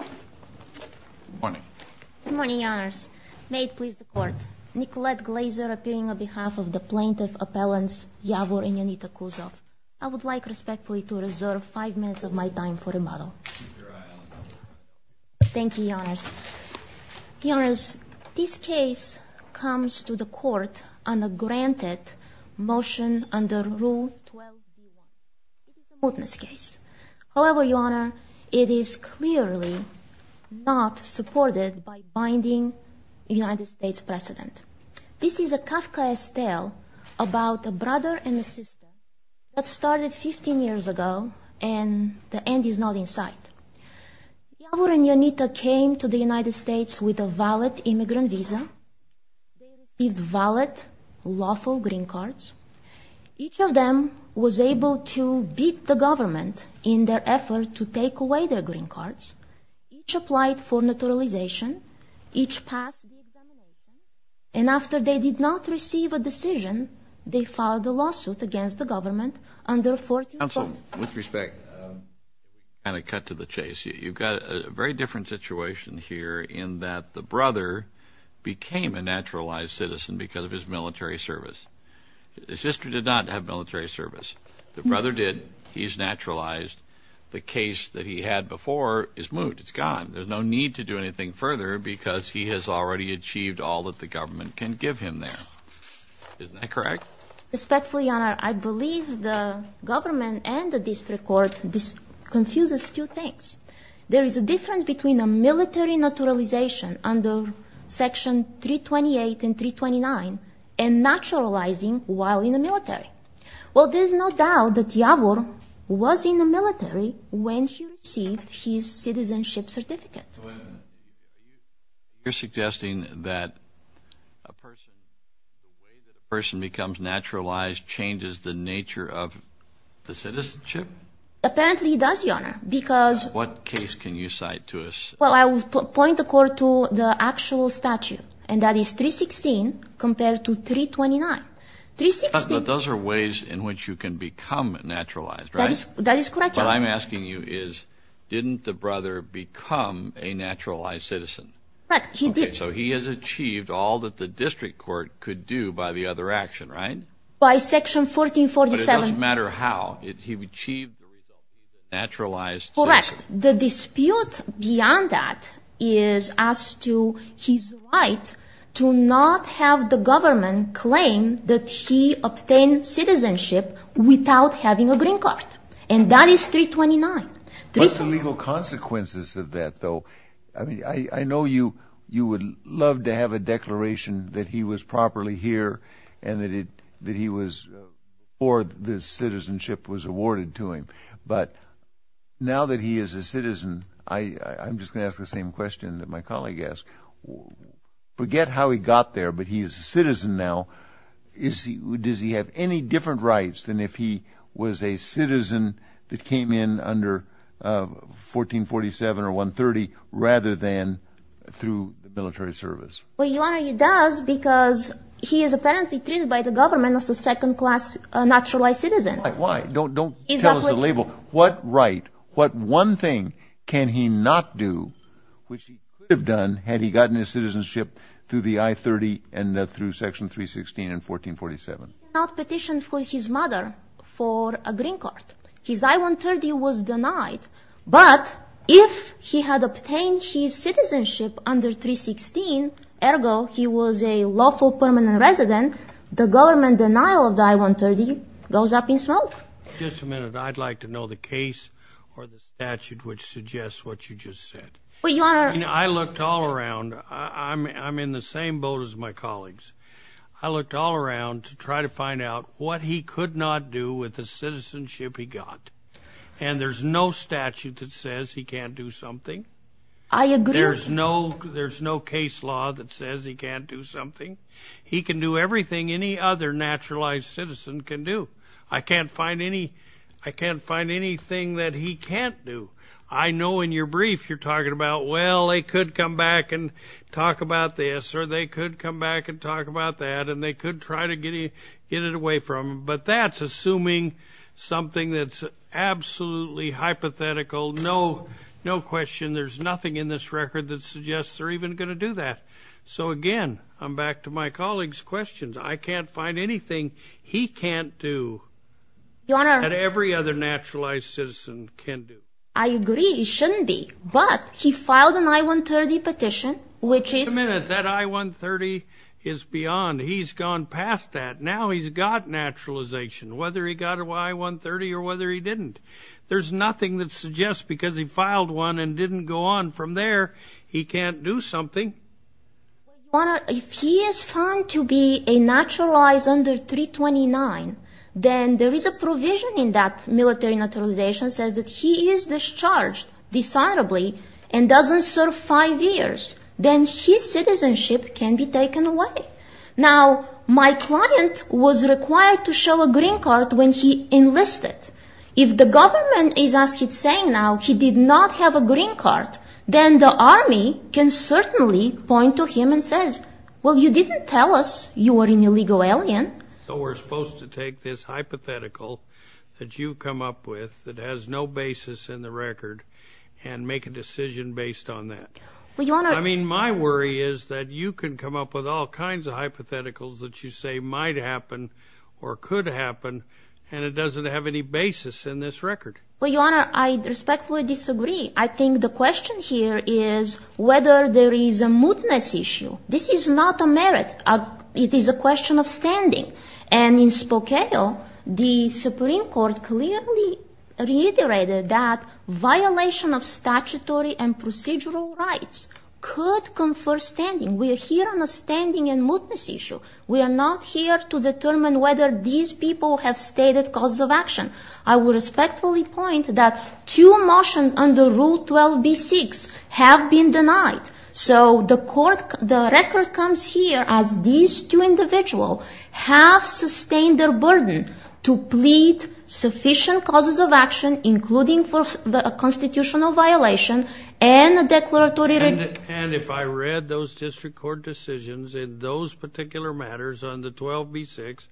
Good morning. Good morning, Your Honours. May it please the Court. Nicolette Glazer, appearing on behalf of the Plaintiff Appellants Yavor and Yanita Kuzov. I would like respectfully to reserve five minutes of my time for rebuttal. Keep your eye on the ball. Thank you, Your Honours. Your Honours, this case comes to the Court on a granted motion under Rule 12b1. However, Your Honour, it is clearly not supported by binding United States precedent. This is a Kafkaesque tale about a brother and a sister that started 15 years ago and the end is not in sight. Yavor and Yanita came to the United States with a valid immigrant visa. They received valid lawful green cards. Each of them was able to beat the government in their effort to take away their green cards. Each applied for naturalization. Each passed the examination. And after they did not receive a decision, they filed a lawsuit against the government under 14- Counsel, with respect, I'm going to cut to the chase. You've got a very different situation here in that the brother became a naturalized citizen because of his military service. His sister did not have military service. The brother did. He's naturalized. The case that he had before is moved. It's gone. There's no need to do anything further because he has already achieved all that the government can give him there. Isn't that correct? Respectfully, Your Honour, I believe the government and the district court, this confuses two things. There is a difference between a military naturalization under Section 328 and 329 and naturalizing while in the military. Well, there's no doubt that Yavor was in the military when he received his citizenship certificate. You're suggesting that a person becomes naturalized changes the nature of the citizenship? Apparently it does, Your Honour, because- What case can you cite to us? Well, I will point the court to the actual statute, and that is 316 compared to 329. 316- But those are ways in which you can become naturalized, right? That is correct, Your Honour. What I'm asking you is didn't the brother become a naturalized citizen? Right, he did. Okay, so he has achieved all that the district court could do by the other action, right? By Section 1447. But it doesn't matter how, he achieved the result of naturalized citizenship. Correct. The dispute beyond that is as to his right to not have the government claim that he obtained citizenship without having a green card. And that is 329. What's the legal consequences of that, though? I mean, I know you would love to have a declaration that he was properly here and that he was- or the citizenship was awarded to him. But now that he is a citizen, I'm just going to ask the same question that my colleague asked. Forget how he got there, but he is a citizen now. Does he have any different rights than if he was a citizen that came in under 1447 or 130 rather than through military service? Well, Your Honour, he does because he is apparently treated by the government as a second-class naturalized citizen. Why? Don't tell us the label. What right, what one thing can he not do which he could have done had he gotten his citizenship through the I-30 and through Section 316 and 1447? He could not petition for his mother for a green card. His I-130 was denied. But if he had obtained his citizenship under 316, ergo he was a lawful permanent resident, the government denial of the I-130 goes up in smoke. Just a minute. I'd like to know the case or the statute which suggests what you just said. Well, Your Honour- I looked all around. I'm in the same boat as my colleagues. I looked all around to try to find out what he could not do with the citizenship he got. And there's no statute that says he can't do something. I agree- There's no case law that says he can't do something. He can do everything any other naturalized citizen can do. I can't find anything that he can't do. I know in your brief you're talking about, well, they could come back and talk about this or they could come back and talk about that and they could try to get it away from him. But that's assuming something that's absolutely hypothetical, no question. There's nothing in this record that suggests they're even going to do that. So, again, I'm back to my colleagues' questions. I can't find anything he can't do that every other naturalized citizen can do. I agree. He shouldn't be. But he filed an I-130 petition, which is- Wait a minute. That I-130 is beyond. He's gone past that. Now he's got naturalization, whether he got an I-130 or whether he didn't. There's nothing that suggests because he filed one and didn't go on from there, he can't do something. If he is found to be a naturalized under 329, then there is a provision in that military naturalization that says he is discharged dishonorably and doesn't serve five years. Then his citizenship can be taken away. Now, my client was required to show a green card when he enlisted. If the government is as he's saying now, he did not have a green card, then the Army can certainly point to him and say, Well, you didn't tell us you were an illegal alien. So we're supposed to take this hypothetical that you come up with that has no basis in the record and make a decision based on that. I mean, my worry is that you can come up with all kinds of hypotheticals that you say might happen or could happen, and it doesn't have any basis in this record. Well, Your Honor, I respectfully disagree. I think the question here is whether there is a mootness issue. This is not a merit. It is a question of standing. And in Spokane, the Supreme Court clearly reiterated that violation of statutory and procedural rights could confer standing. We are here on a standing and mootness issue. We are not here to determine whether these people have stated causes of action. I will respectfully point that two motions under Rule 12b-6 have been denied. So the record comes here as these two individuals have sustained their burden to plead sufficient causes of action, including for a constitutional violation and a declaratory review. And if I read those district court decisions in those particular matters under 12b-6,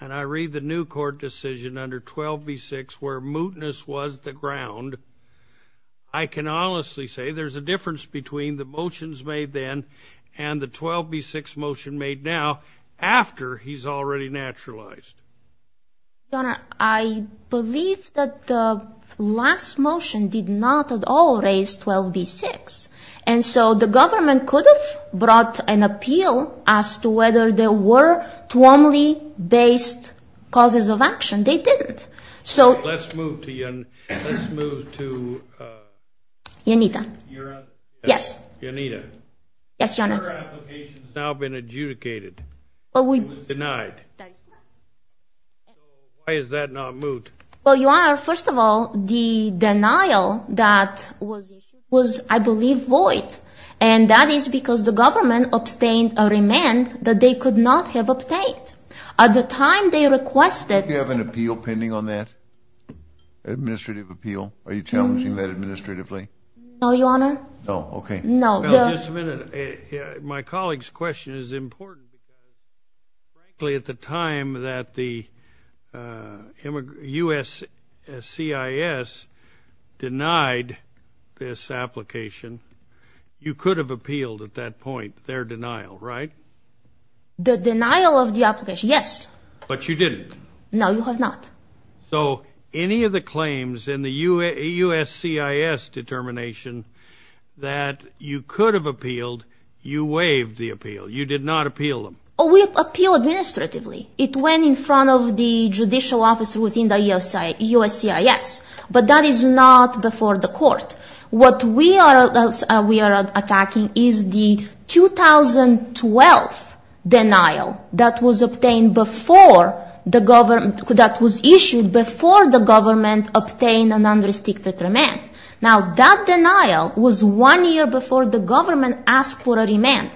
and I read the new court decision under 12b-6 where mootness was the ground, I can honestly say there's a difference between the motions made then and the 12b-6 motion made now after he's already naturalized. Your Honor, I believe that the last motion did not at all raise 12b-6. And so the government could have brought an appeal as to whether there were formally based causes of action. They didn't. Let's move to Yanira. Yes. Yanira. Yes, Your Honor. Your application has now been adjudicated. It was denied. Why is that not moot? Well, Your Honor, first of all, the denial that was issued was, I believe, void. And that is because the government abstained a remand that they could not have obtained. At the time they requested it. Do you have an appeal pending on that, administrative appeal? Are you challenging that administratively? No, Your Honor. No, okay. No. Well, just a minute. My colleague's question is important. At the time that the USCIS denied this application, you could have appealed at that point their denial, right? The denial of the application, yes. But you didn't. No, you have not. So any of the claims in the USCIS determination that you could have appealed, you waived the appeal. You did not appeal them. Oh, we appealed administratively. It went in front of the judicial office within the USCIS. But that is not before the court. What we are attacking is the 2012 denial that was issued before the government obtained an unrestricted remand. Now, that denial was one year before the government asked for a remand.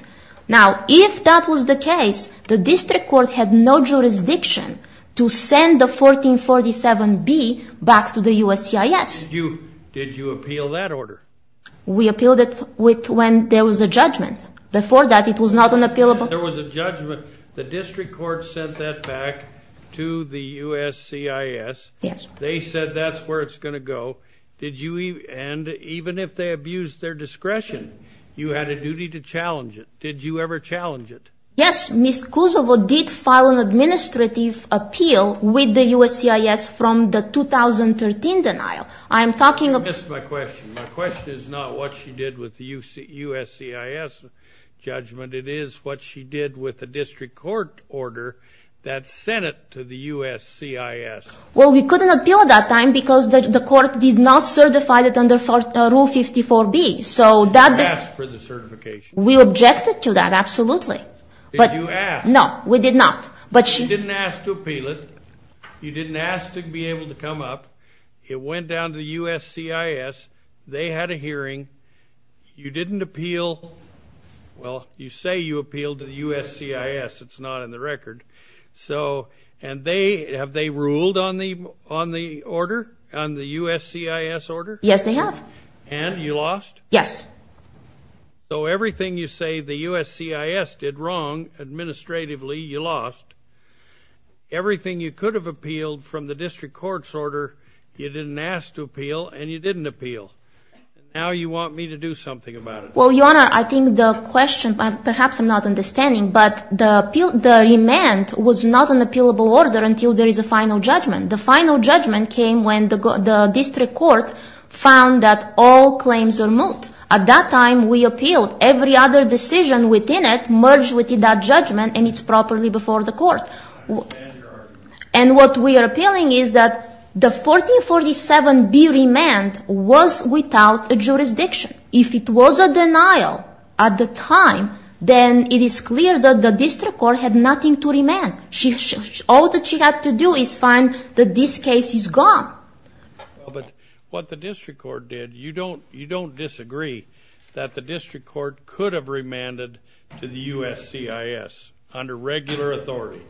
Now, if that was the case, the district court had no jurisdiction to send the 1447B back to the USCIS. Did you appeal that order? We appealed it when there was a judgment. Before that, it was not unappealable. There was a judgment. The district court sent that back to the USCIS. Yes. They said that's where it's going to go. And even if they abused their discretion, you had a duty to challenge it. Did you ever challenge it? Yes. Ms. Kuzova did file an administrative appeal with the USCIS from the 2013 denial. I am talking about- You missed my question. My question is not what she did with the USCIS judgment. It is what she did with the district court order that sent it to the USCIS. Well, we couldn't appeal at that time because the court did not certify it under Rule 54B. You asked for the certification. We objected to that, absolutely. Did you ask? No, we did not. You didn't ask to appeal it. You didn't ask to be able to come up. It went down to the USCIS. They had a hearing. You didn't appeal. Well, you say you appealed to the USCIS. It's not in the record. And have they ruled on the order, on the USCIS order? Yes, they have. And you lost? Yes. So everything you say the USCIS did wrong administratively, you lost. Everything you could have appealed from the district court's order, you didn't ask to appeal, and you didn't appeal. Now you want me to do something about it. Well, Your Honor, I think the question, perhaps I'm not understanding, but the remand was not an appealable order until there is a final judgment. The final judgment came when the district court found that all claims are moot. At that time, we appealed. Every other decision within it merged with that judgment, and it's properly before the court. And what we are appealing is that the 1447B remand was without a jurisdiction. If it was a denial at the time, then it is clear that the district court had nothing to remand. All that she had to do is find that this case is gone. But what the district court did, you don't disagree that the district court could have remanded to the USCIS under regular authority?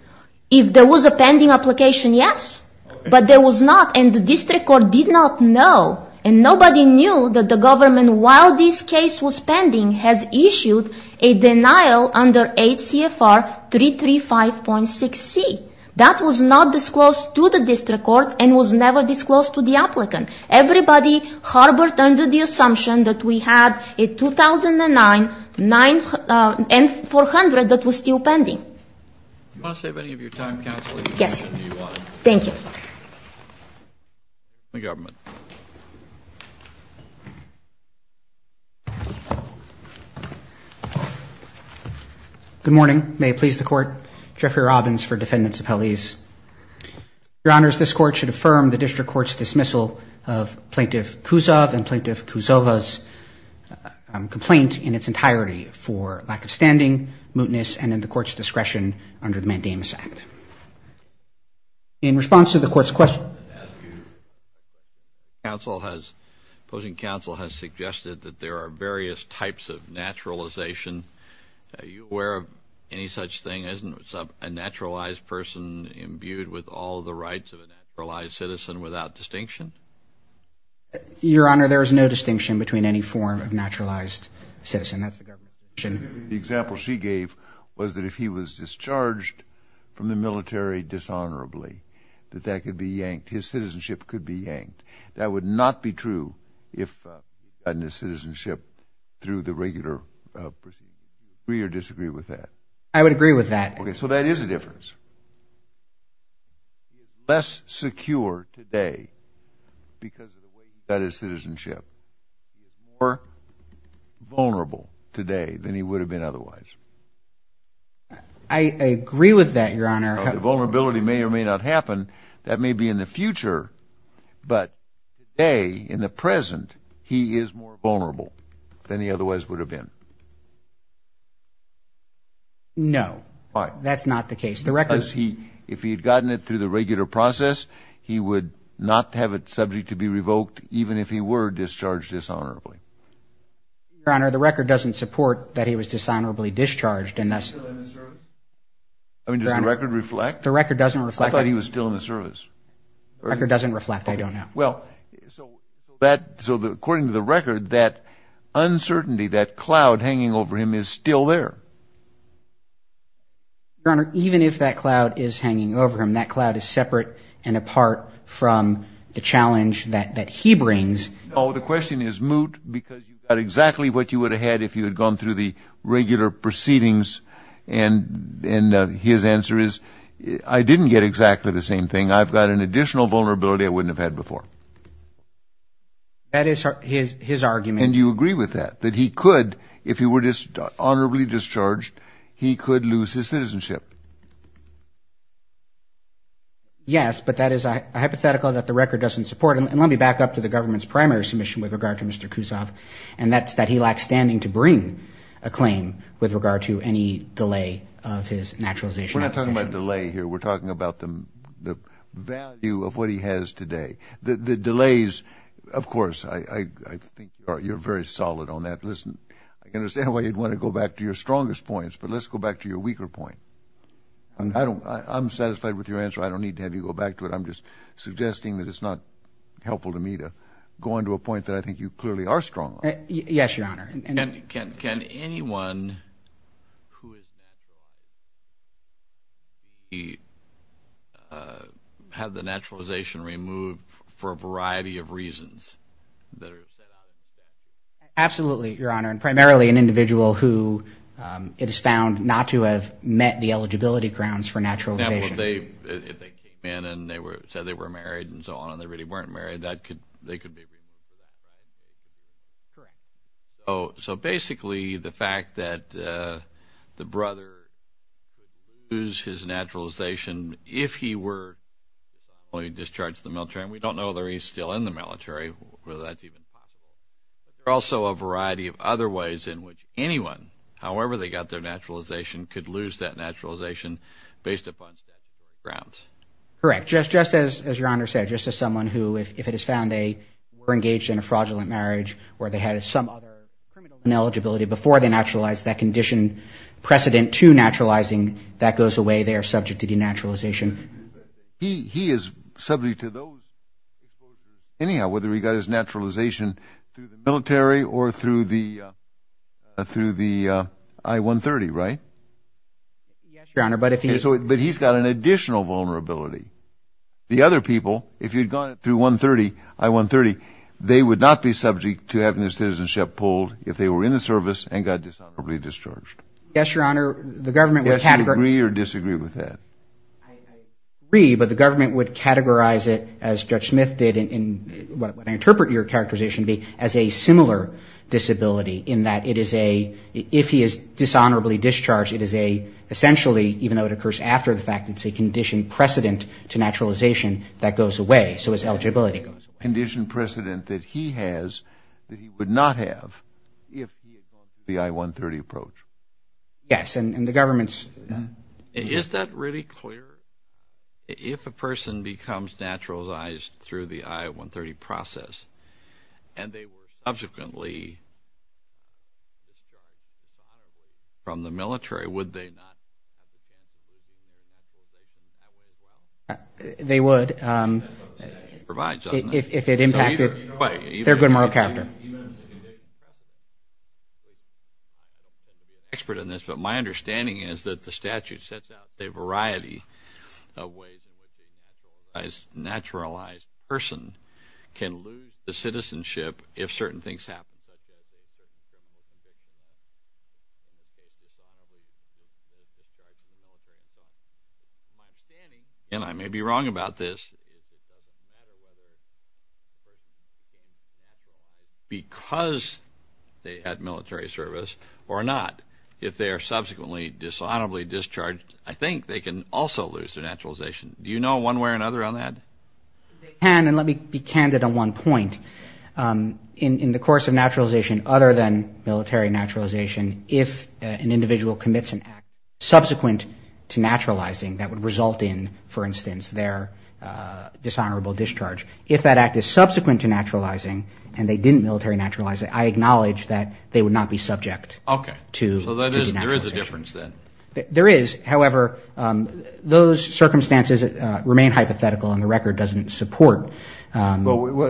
If there was a pending application, yes. But there was not, and the district court did not know. And nobody knew that the government, while this case was pending, has issued a denial under 8 CFR 335.6C. That was not disclosed to the district court and was never disclosed to the applicant. Everybody harbored under the assumption that we had a 2009 N-400 that was still pending. Do you want to save any of your time, Counsel? Yes. Thank you. The government. Good morning. May it please the Court. Jeffrey Robbins for defendants' appellees. Your Honors, this Court should affirm the district court's dismissal of Plaintiff Kuzov and Plaintiff Kuzova's complaint in its entirety for lack of standing, mootness, and in the Court's discretion under the Mandamus Act. In response to the Court's question. Counsel has, opposing Counsel has suggested that there are various types of naturalization. Are you aware of any such thing? Isn't a naturalized person imbued with all the rights of a naturalized citizen without distinction? Your Honor, there is no distinction between any form of naturalized citizen. That's the government's position. The example she gave was that if he was discharged from the military dishonorably, that that could be yanked. His citizenship could be yanked. That would not be true if he had gotten his citizenship through the regular procedure. Do you agree or disagree with that? I would agree with that. Okay. So that is a difference. He is less secure today because of the way he got his citizenship. He is more vulnerable today than he would have been otherwise. I agree with that, Your Honor. The vulnerability may or may not happen. That may be in the future. But today, in the present, he is more vulnerable than he otherwise would have been. No. Why? Well, that's not the case. Because if he had gotten it through the regular process, he would not have it subject to be revoked, even if he were discharged dishonorably. Your Honor, the record doesn't support that he was dishonorably discharged. I mean, does the record reflect? The record doesn't reflect. I thought he was still in the service. The record doesn't reflect. I don't know. Well, so according to the record, that uncertainty, that cloud hanging over him is still there. Your Honor, even if that cloud is hanging over him, that cloud is separate and apart from the challenge that he brings. No. The question is moot because you got exactly what you would have had if you had gone through the regular proceedings. And his answer is, I didn't get exactly the same thing. I've got an additional vulnerability I wouldn't have had before. That is his argument. And you agree with that, that he could, if he were dishonorably discharged, he could lose his citizenship? Yes, but that is a hypothetical that the record doesn't support. And let me back up to the government's primary submission with regard to Mr. Kuzov, and that's that he lacks standing to bring a claim with regard to any delay of his naturalization application. We're not talking about delay here. We're talking about the value of what he has today. The delays, of course, I think you're very solid on that. Listen, I can understand why you'd want to go back to your strongest points, but let's go back to your weaker point. I'm satisfied with your answer. I don't need to have you go back to it. I'm just suggesting that it's not helpful to me to go on to a point that I think you clearly are strong on. Yes, Your Honor. Can anyone who is naturalized have the naturalization removed for a variety of reasons that are set out in the statute? Absolutely, Your Honor, and primarily an individual who it is found not to have met the eligibility grounds for naturalization. Now, if they came in and said they were married and so on and they really weren't married, they could be removed. Correct. So basically the fact that the brother could lose his naturalization if he were discharged from the military, and we don't know whether he's still in the military, whether that's even possible. There are also a variety of other ways in which anyone, however they got their naturalization, could lose that naturalization based upon statute grounds. Correct. Just as Your Honor said, just as someone who if it is found they were engaged in a fraudulent marriage or they had some other criminal eligibility before they naturalized, that condition, precedent to naturalizing, that goes away, they are subject to denaturalization. He is subject to those, anyhow, whether he got his naturalization through the military or through the I-130, right? Yes, Your Honor, but if he... But he's got an additional vulnerability. The other people, if you had gone through I-130, they would not be subject to having their citizenship pulled if they were in the service and got dishonorably discharged. Yes, Your Honor, the government would categorize... Yes, you agree or disagree with that? I agree, but the government would categorize it, as Judge Smith did, and what I interpret your characterization to be as a similar disability in that it is a, if he is dishonorably discharged, it is a, essentially, even though it occurs after the fact, it's a condition precedent to naturalization that goes away, so his eligibility goes away. Condition precedent that he has that he would not have if he had gone through the I-130 approach. Yes, and the government's... Is that really clear? If a person becomes naturalized through the I-130 process and they were subsequently discharged from the military, would they not? They would if it impacted their good moral character. I'm not an expert in this, but my understanding is that the statute sets out a variety of ways that a naturalized person can lose their citizenship if certain things happen. My understanding, and I may be wrong about this, because they had military service or not, if they are subsequently dishonorably discharged, I think they can also lose their naturalization. Do you know one way or another on that? They can, and let me be candid on one point. In the course of naturalization, other than military naturalization, if an individual commits an act subsequent to naturalizing that would result in, for instance, their dishonorable discharge, if that act is subsequent to naturalizing and they didn't military naturalize it, I acknowledge that they would not be subject to the naturalization. There is, however, those circumstances remain hypothetical and the record doesn't support that.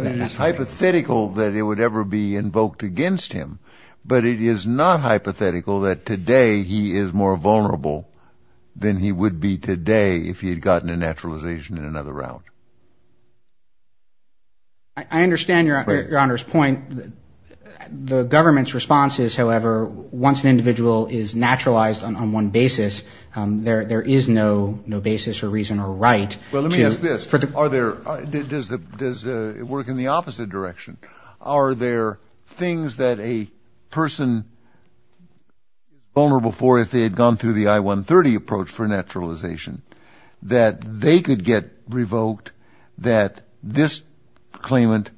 It is hypothetical that it would ever be invoked against him, but it is not hypothetical that today he is more vulnerable than he would be today if he had gotten a naturalization in another round. I understand Your Honor's point. The government's response is, however, once an individual is naturalized on one basis, there is no basis or reason or right. Well, let me ask this. Does it work in the opposite direction? Are there things that a person is vulnerable for if they had gone through the I-130 approach for naturalization, that they could get revoked that this claimant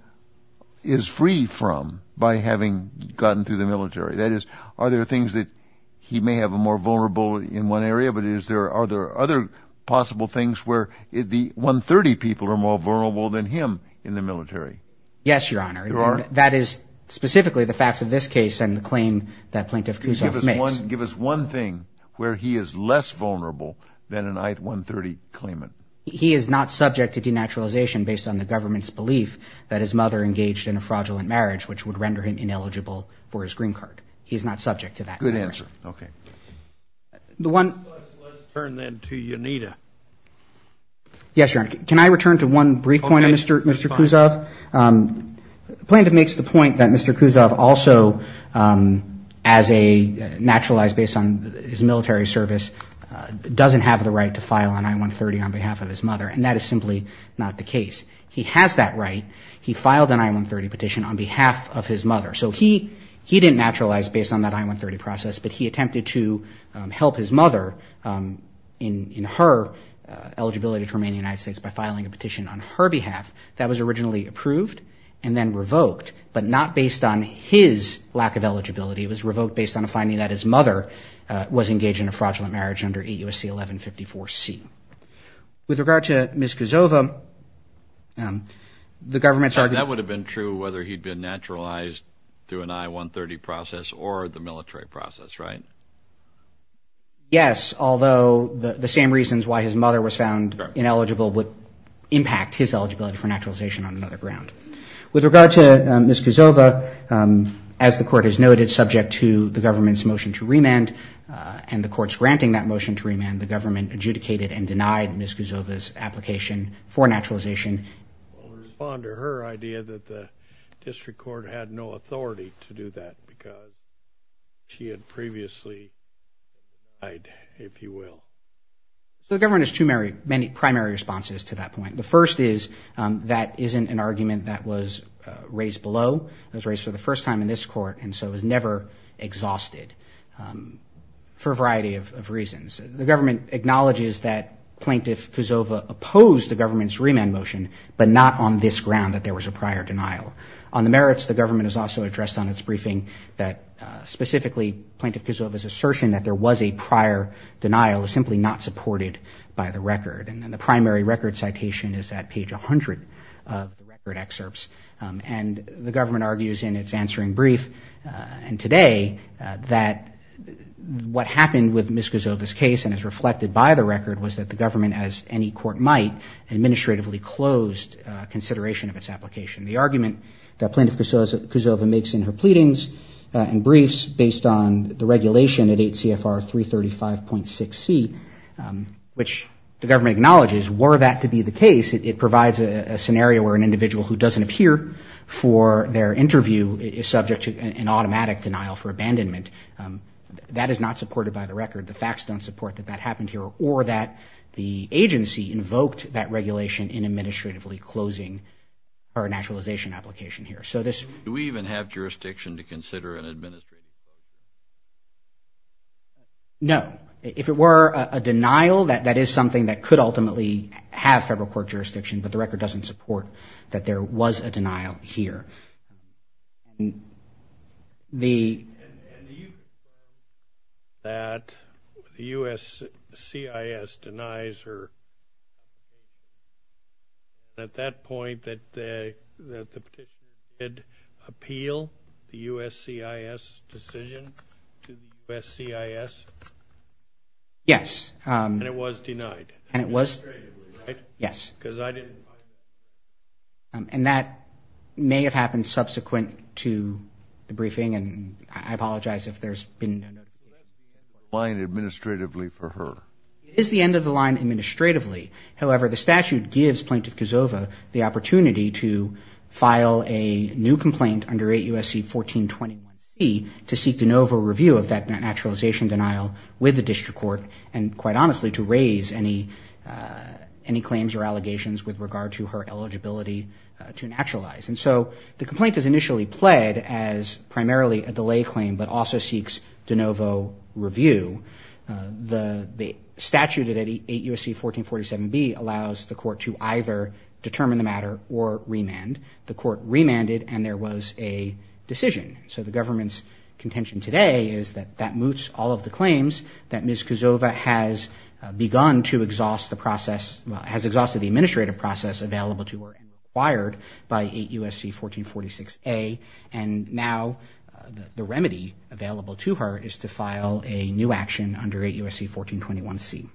is free from by having gotten through the military? That is, are there things that he may have more vulnerable in one area, but are there other possible things where the I-130 people are more vulnerable than him in the military? Yes, Your Honor. You are? That is specifically the facts of this case and the claim that Plaintiff Kuzov makes. Give us one thing where he is less vulnerable than an I-130 claimant. He is not subject to denaturalization based on the government's belief that his mother engaged in a fraudulent marriage, which would render him ineligible for his green card. He is not subject to that. Good answer. Okay. Let's turn then to Yanita. Yes, Your Honor. Can I return to one brief point of Mr. Kuzov? Plaintiff makes the point that Mr. Kuzov also, as a naturalized, based on his military service, doesn't have the right to file an I-130 on behalf of his mother, and that is simply not the case. He has that right. He filed an I-130 petition on behalf of his mother. So he didn't naturalize based on that I-130 process, but he attempted to help his mother in her eligibility to remain in the United States by filing a petition on her behalf that was originally approved and then revoked, but not based on his lack of eligibility. It was revoked based on a finding that his mother was engaged in a fraudulent marriage under 8 U.S.C. 1154-C. With regard to Ms. Kuzov, the government's argument- That would have been true whether he had been naturalized through an I-130 process or the military process, right? Yes, although the same reasons why his mother was found ineligible would impact his eligibility for naturalization on another ground. With regard to Ms. Kuzov, as the court has noted, subject to the government's motion to remand and the court's granting that motion to remand, the government adjudicated and denied Ms. Kuzov's application for naturalization. I'll respond to her idea that the district court had no authority to do that because she had previously denied, if you will. The government has two primary responses to that point. The first is that isn't an argument that was raised below. It was raised for the first time in this court and so was never exhausted for a variety of reasons. The government acknowledges that Plaintiff Kuzov opposed the government's remand motion, but not on this ground that there was a prior denial. On the merits, the government has also addressed on its briefing that specifically Plaintiff Kuzov's assertion that there was a prior denial is simply not supported by the record. And the primary record citation is at page 100 of the record excerpts. And the government argues in its answering brief and today that what happened with Ms. Kuzov's case and is reflected by the record was that the government, as any court might, administratively closed consideration of its application. The argument that Plaintiff Kuzov makes in her pleadings and briefs based on the regulation at 8 CFR 335.6C, which the government acknowledges, were that to be the case, it provides a scenario where an individual who doesn't appear for their interview is subject to an automatic denial for abandonment. That is not supported by the record. The facts don't support that that happened here or that the agency invoked that regulation in administratively closing our naturalization application here. So this... Do we even have jurisdiction to consider an administrative... No. If it were a denial, that is something that could ultimately have federal court jurisdiction, but the record doesn't support that there was a denial here. And the... And do you... That the USCIS denies her... At that point that the... Appeal the USCIS decision to USCIS? Yes. And it was denied? And it was... Administratively, right? Yes. Because I didn't... And that may have happened subsequent to the briefing, and I apologize if there's been... So that's the end of the line administratively for her? It is the end of the line administratively. However, the statute gives Plaintiff Kuzova the opportunity to file a new complaint under 8 U.S.C. 1421C to seek de novo review of that naturalization denial with the district court and, quite honestly, to raise any claims or allegations with regard to her eligibility to naturalize. And so the complaint is initially pled as primarily a delay claim, but also seeks de novo review. The statute at 8 U.S.C. 1447B allows the court to either determine the matter or remand. The court remanded, and there was a decision. So the government's contention today is that that moots all of the claims that Ms. Kuzova has begun to exhaust the process, has exhausted the administrative process available to her and required by 8 U.S.C. 1446A. And now the remedy available to her is to file a new action under 8 U.S.C. 1421C.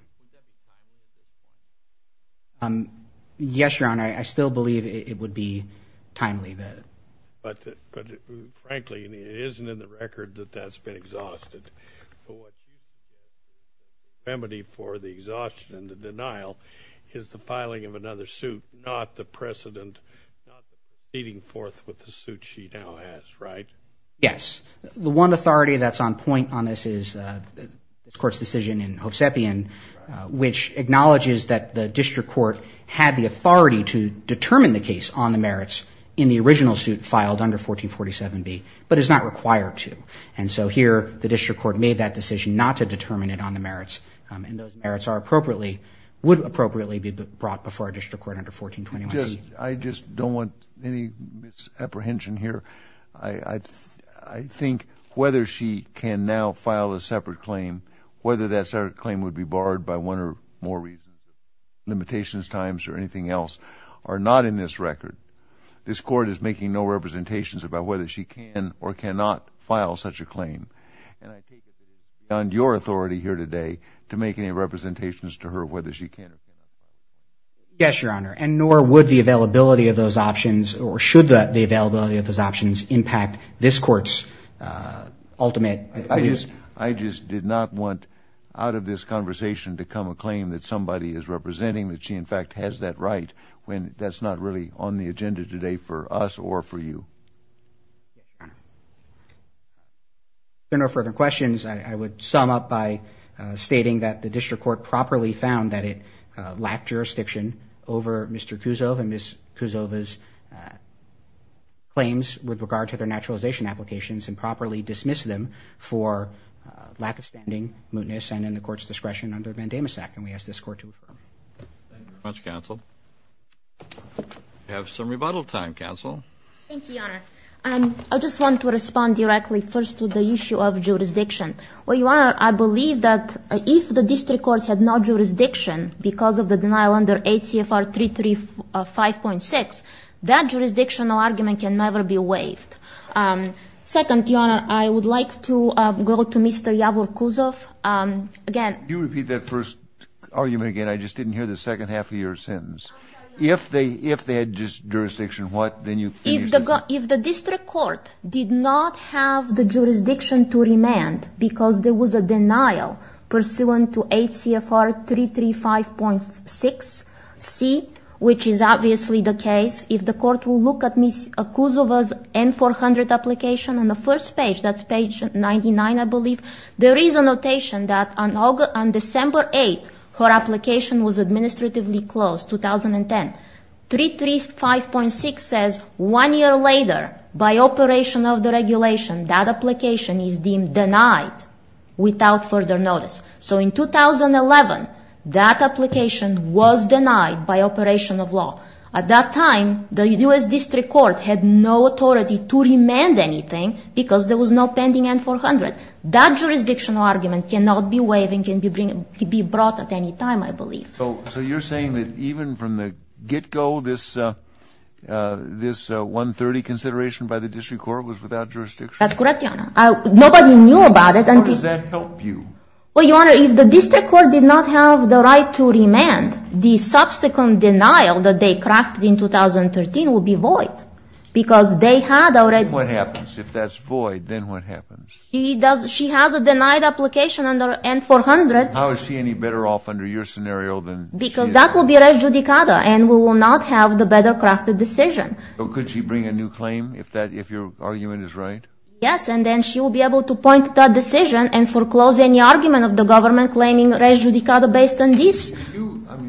Yes, Your Honor, I still believe it would be timely. But, frankly, it isn't in the record that that's been exhausted. The remedy for the exhaustion and the denial is the filing of another suit, not the precedent, not the proceeding forth with the suit she now has, right? Yes. The one authority that's on point on this is this Court's decision in Hovsepian, which acknowledges that the district court had the authority to determine the case on the merits in the original suit filed under 1447B, but is not required to. And so here the district court made that decision not to determine it on the merits, and those merits would appropriately be brought before a district court under 1421C. I just don't want any misapprehension here. I think whether she can now file a separate claim, whether that separate claim would be barred by one or more limitations, times, or anything else, are not in this record. This Court is making no representations about whether she can or cannot file such a claim. And I take it that it is beyond your authority here today to make any representations to her whether she can or cannot. Yes, Your Honor, and nor would the availability of those options, or should the availability of those options, impact this Court's ultimate views. I just did not want out of this conversation to come a claim that somebody is representing, or a claim that she, in fact, has that right, when that's not really on the agenda today for us or for you. Yes, Your Honor. If there are no further questions, I would sum up by stating that the district court properly found that it lacked jurisdiction over Mr. Kuzov and Ms. Kuzova's claims with regard to their naturalization applications, and properly dismissed them for lack of standing, mootness, and in the Court's discretion under Vandemisek. And we ask this Court to refer. Thank you very much, Counsel. We have some rebuttal time, Counsel. Thank you, Your Honor. I just want to respond directly first to the issue of jurisdiction. Well, Your Honor, I believe that if the district court had no jurisdiction because of the denial under 8 CFR 335.6, that jurisdictional argument can never be waived. Second, Your Honor, I would like to go to Mr. Yavor Kuzov again. Can you repeat that first argument again? I just didn't hear the second half of your sentence. If they had jurisdiction, what? If the district court did not have the jurisdiction to remand because there was a denial pursuant to 8 CFR 335.6c, which is obviously the case, if the court will look at Ms. Kuzova's N-400 application on the first page, that's page 99, I believe, there is a notation that on December 8th, her application was administratively closed, 2010. 335.6 says one year later, by operation of the regulation, that application is deemed denied without further notice. So in 2011, that application was denied by operation of law. At that time, the U.S. district court had no authority to remand anything because there was no pending N-400. That jurisdictional argument cannot be waived and can be brought at any time, I believe. So you're saying that even from the get-go, this 130 consideration by the district court was without jurisdiction? That's correct, Your Honor. Nobody knew about it. How does that help you? Well, Your Honor, if the district court did not have the right to remand, the subsequent denial that they crafted in 2013 would be void because they had already What happens if that's void? Then what happens? She has a denied application under N-400. How is she any better off under your scenario than she is? Because that would be res judicata and we will not have the better crafted decision. Could she bring a new claim if your argument is right? Yes, and then she will be able to point to that decision and foreclose any argument of the government claiming res judicata based on this. You probably made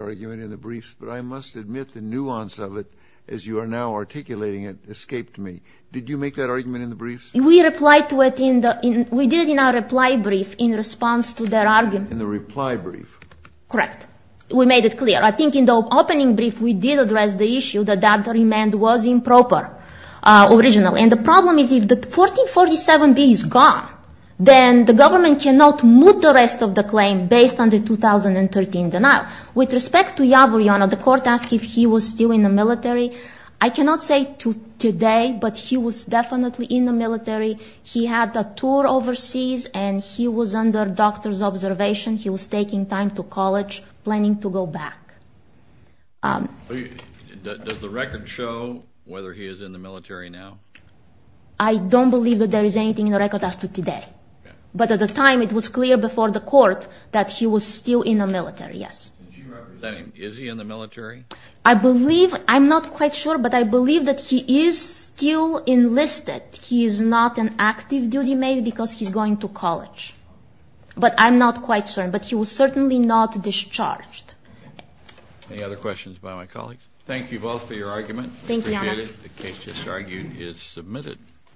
that argument in the briefs, but I must admit the nuance of it, as you are now articulating it, escaped me. Did you make that argument in the briefs? We did it in our reply brief in response to their argument. In the reply brief? Correct. We made it clear. I think in the opening brief we did address the issue that that remand was improper originally. And the problem is if the N-1447B is gone, then the government cannot move the rest of the claim based on the 2013 denial. With respect to Yavor, the court asked if he was still in the military. I cannot say to today, but he was definitely in the military. He had a tour overseas and he was under doctor's observation. He was taking time to college, planning to go back. Does the record show whether he is in the military now? I don't believe that there is anything in the record as to today. But at the time it was clear before the court that he was still in the military, yes. Is he in the military? I believe, I'm not quite sure, but I believe that he is still enlisted. He is not an active duty mate because he's going to college. But I'm not quite sure. But he was certainly not discharged. Any other questions by my colleagues? Thank you both for your argument. Thank you, Your Honor. The case just argued is submitted.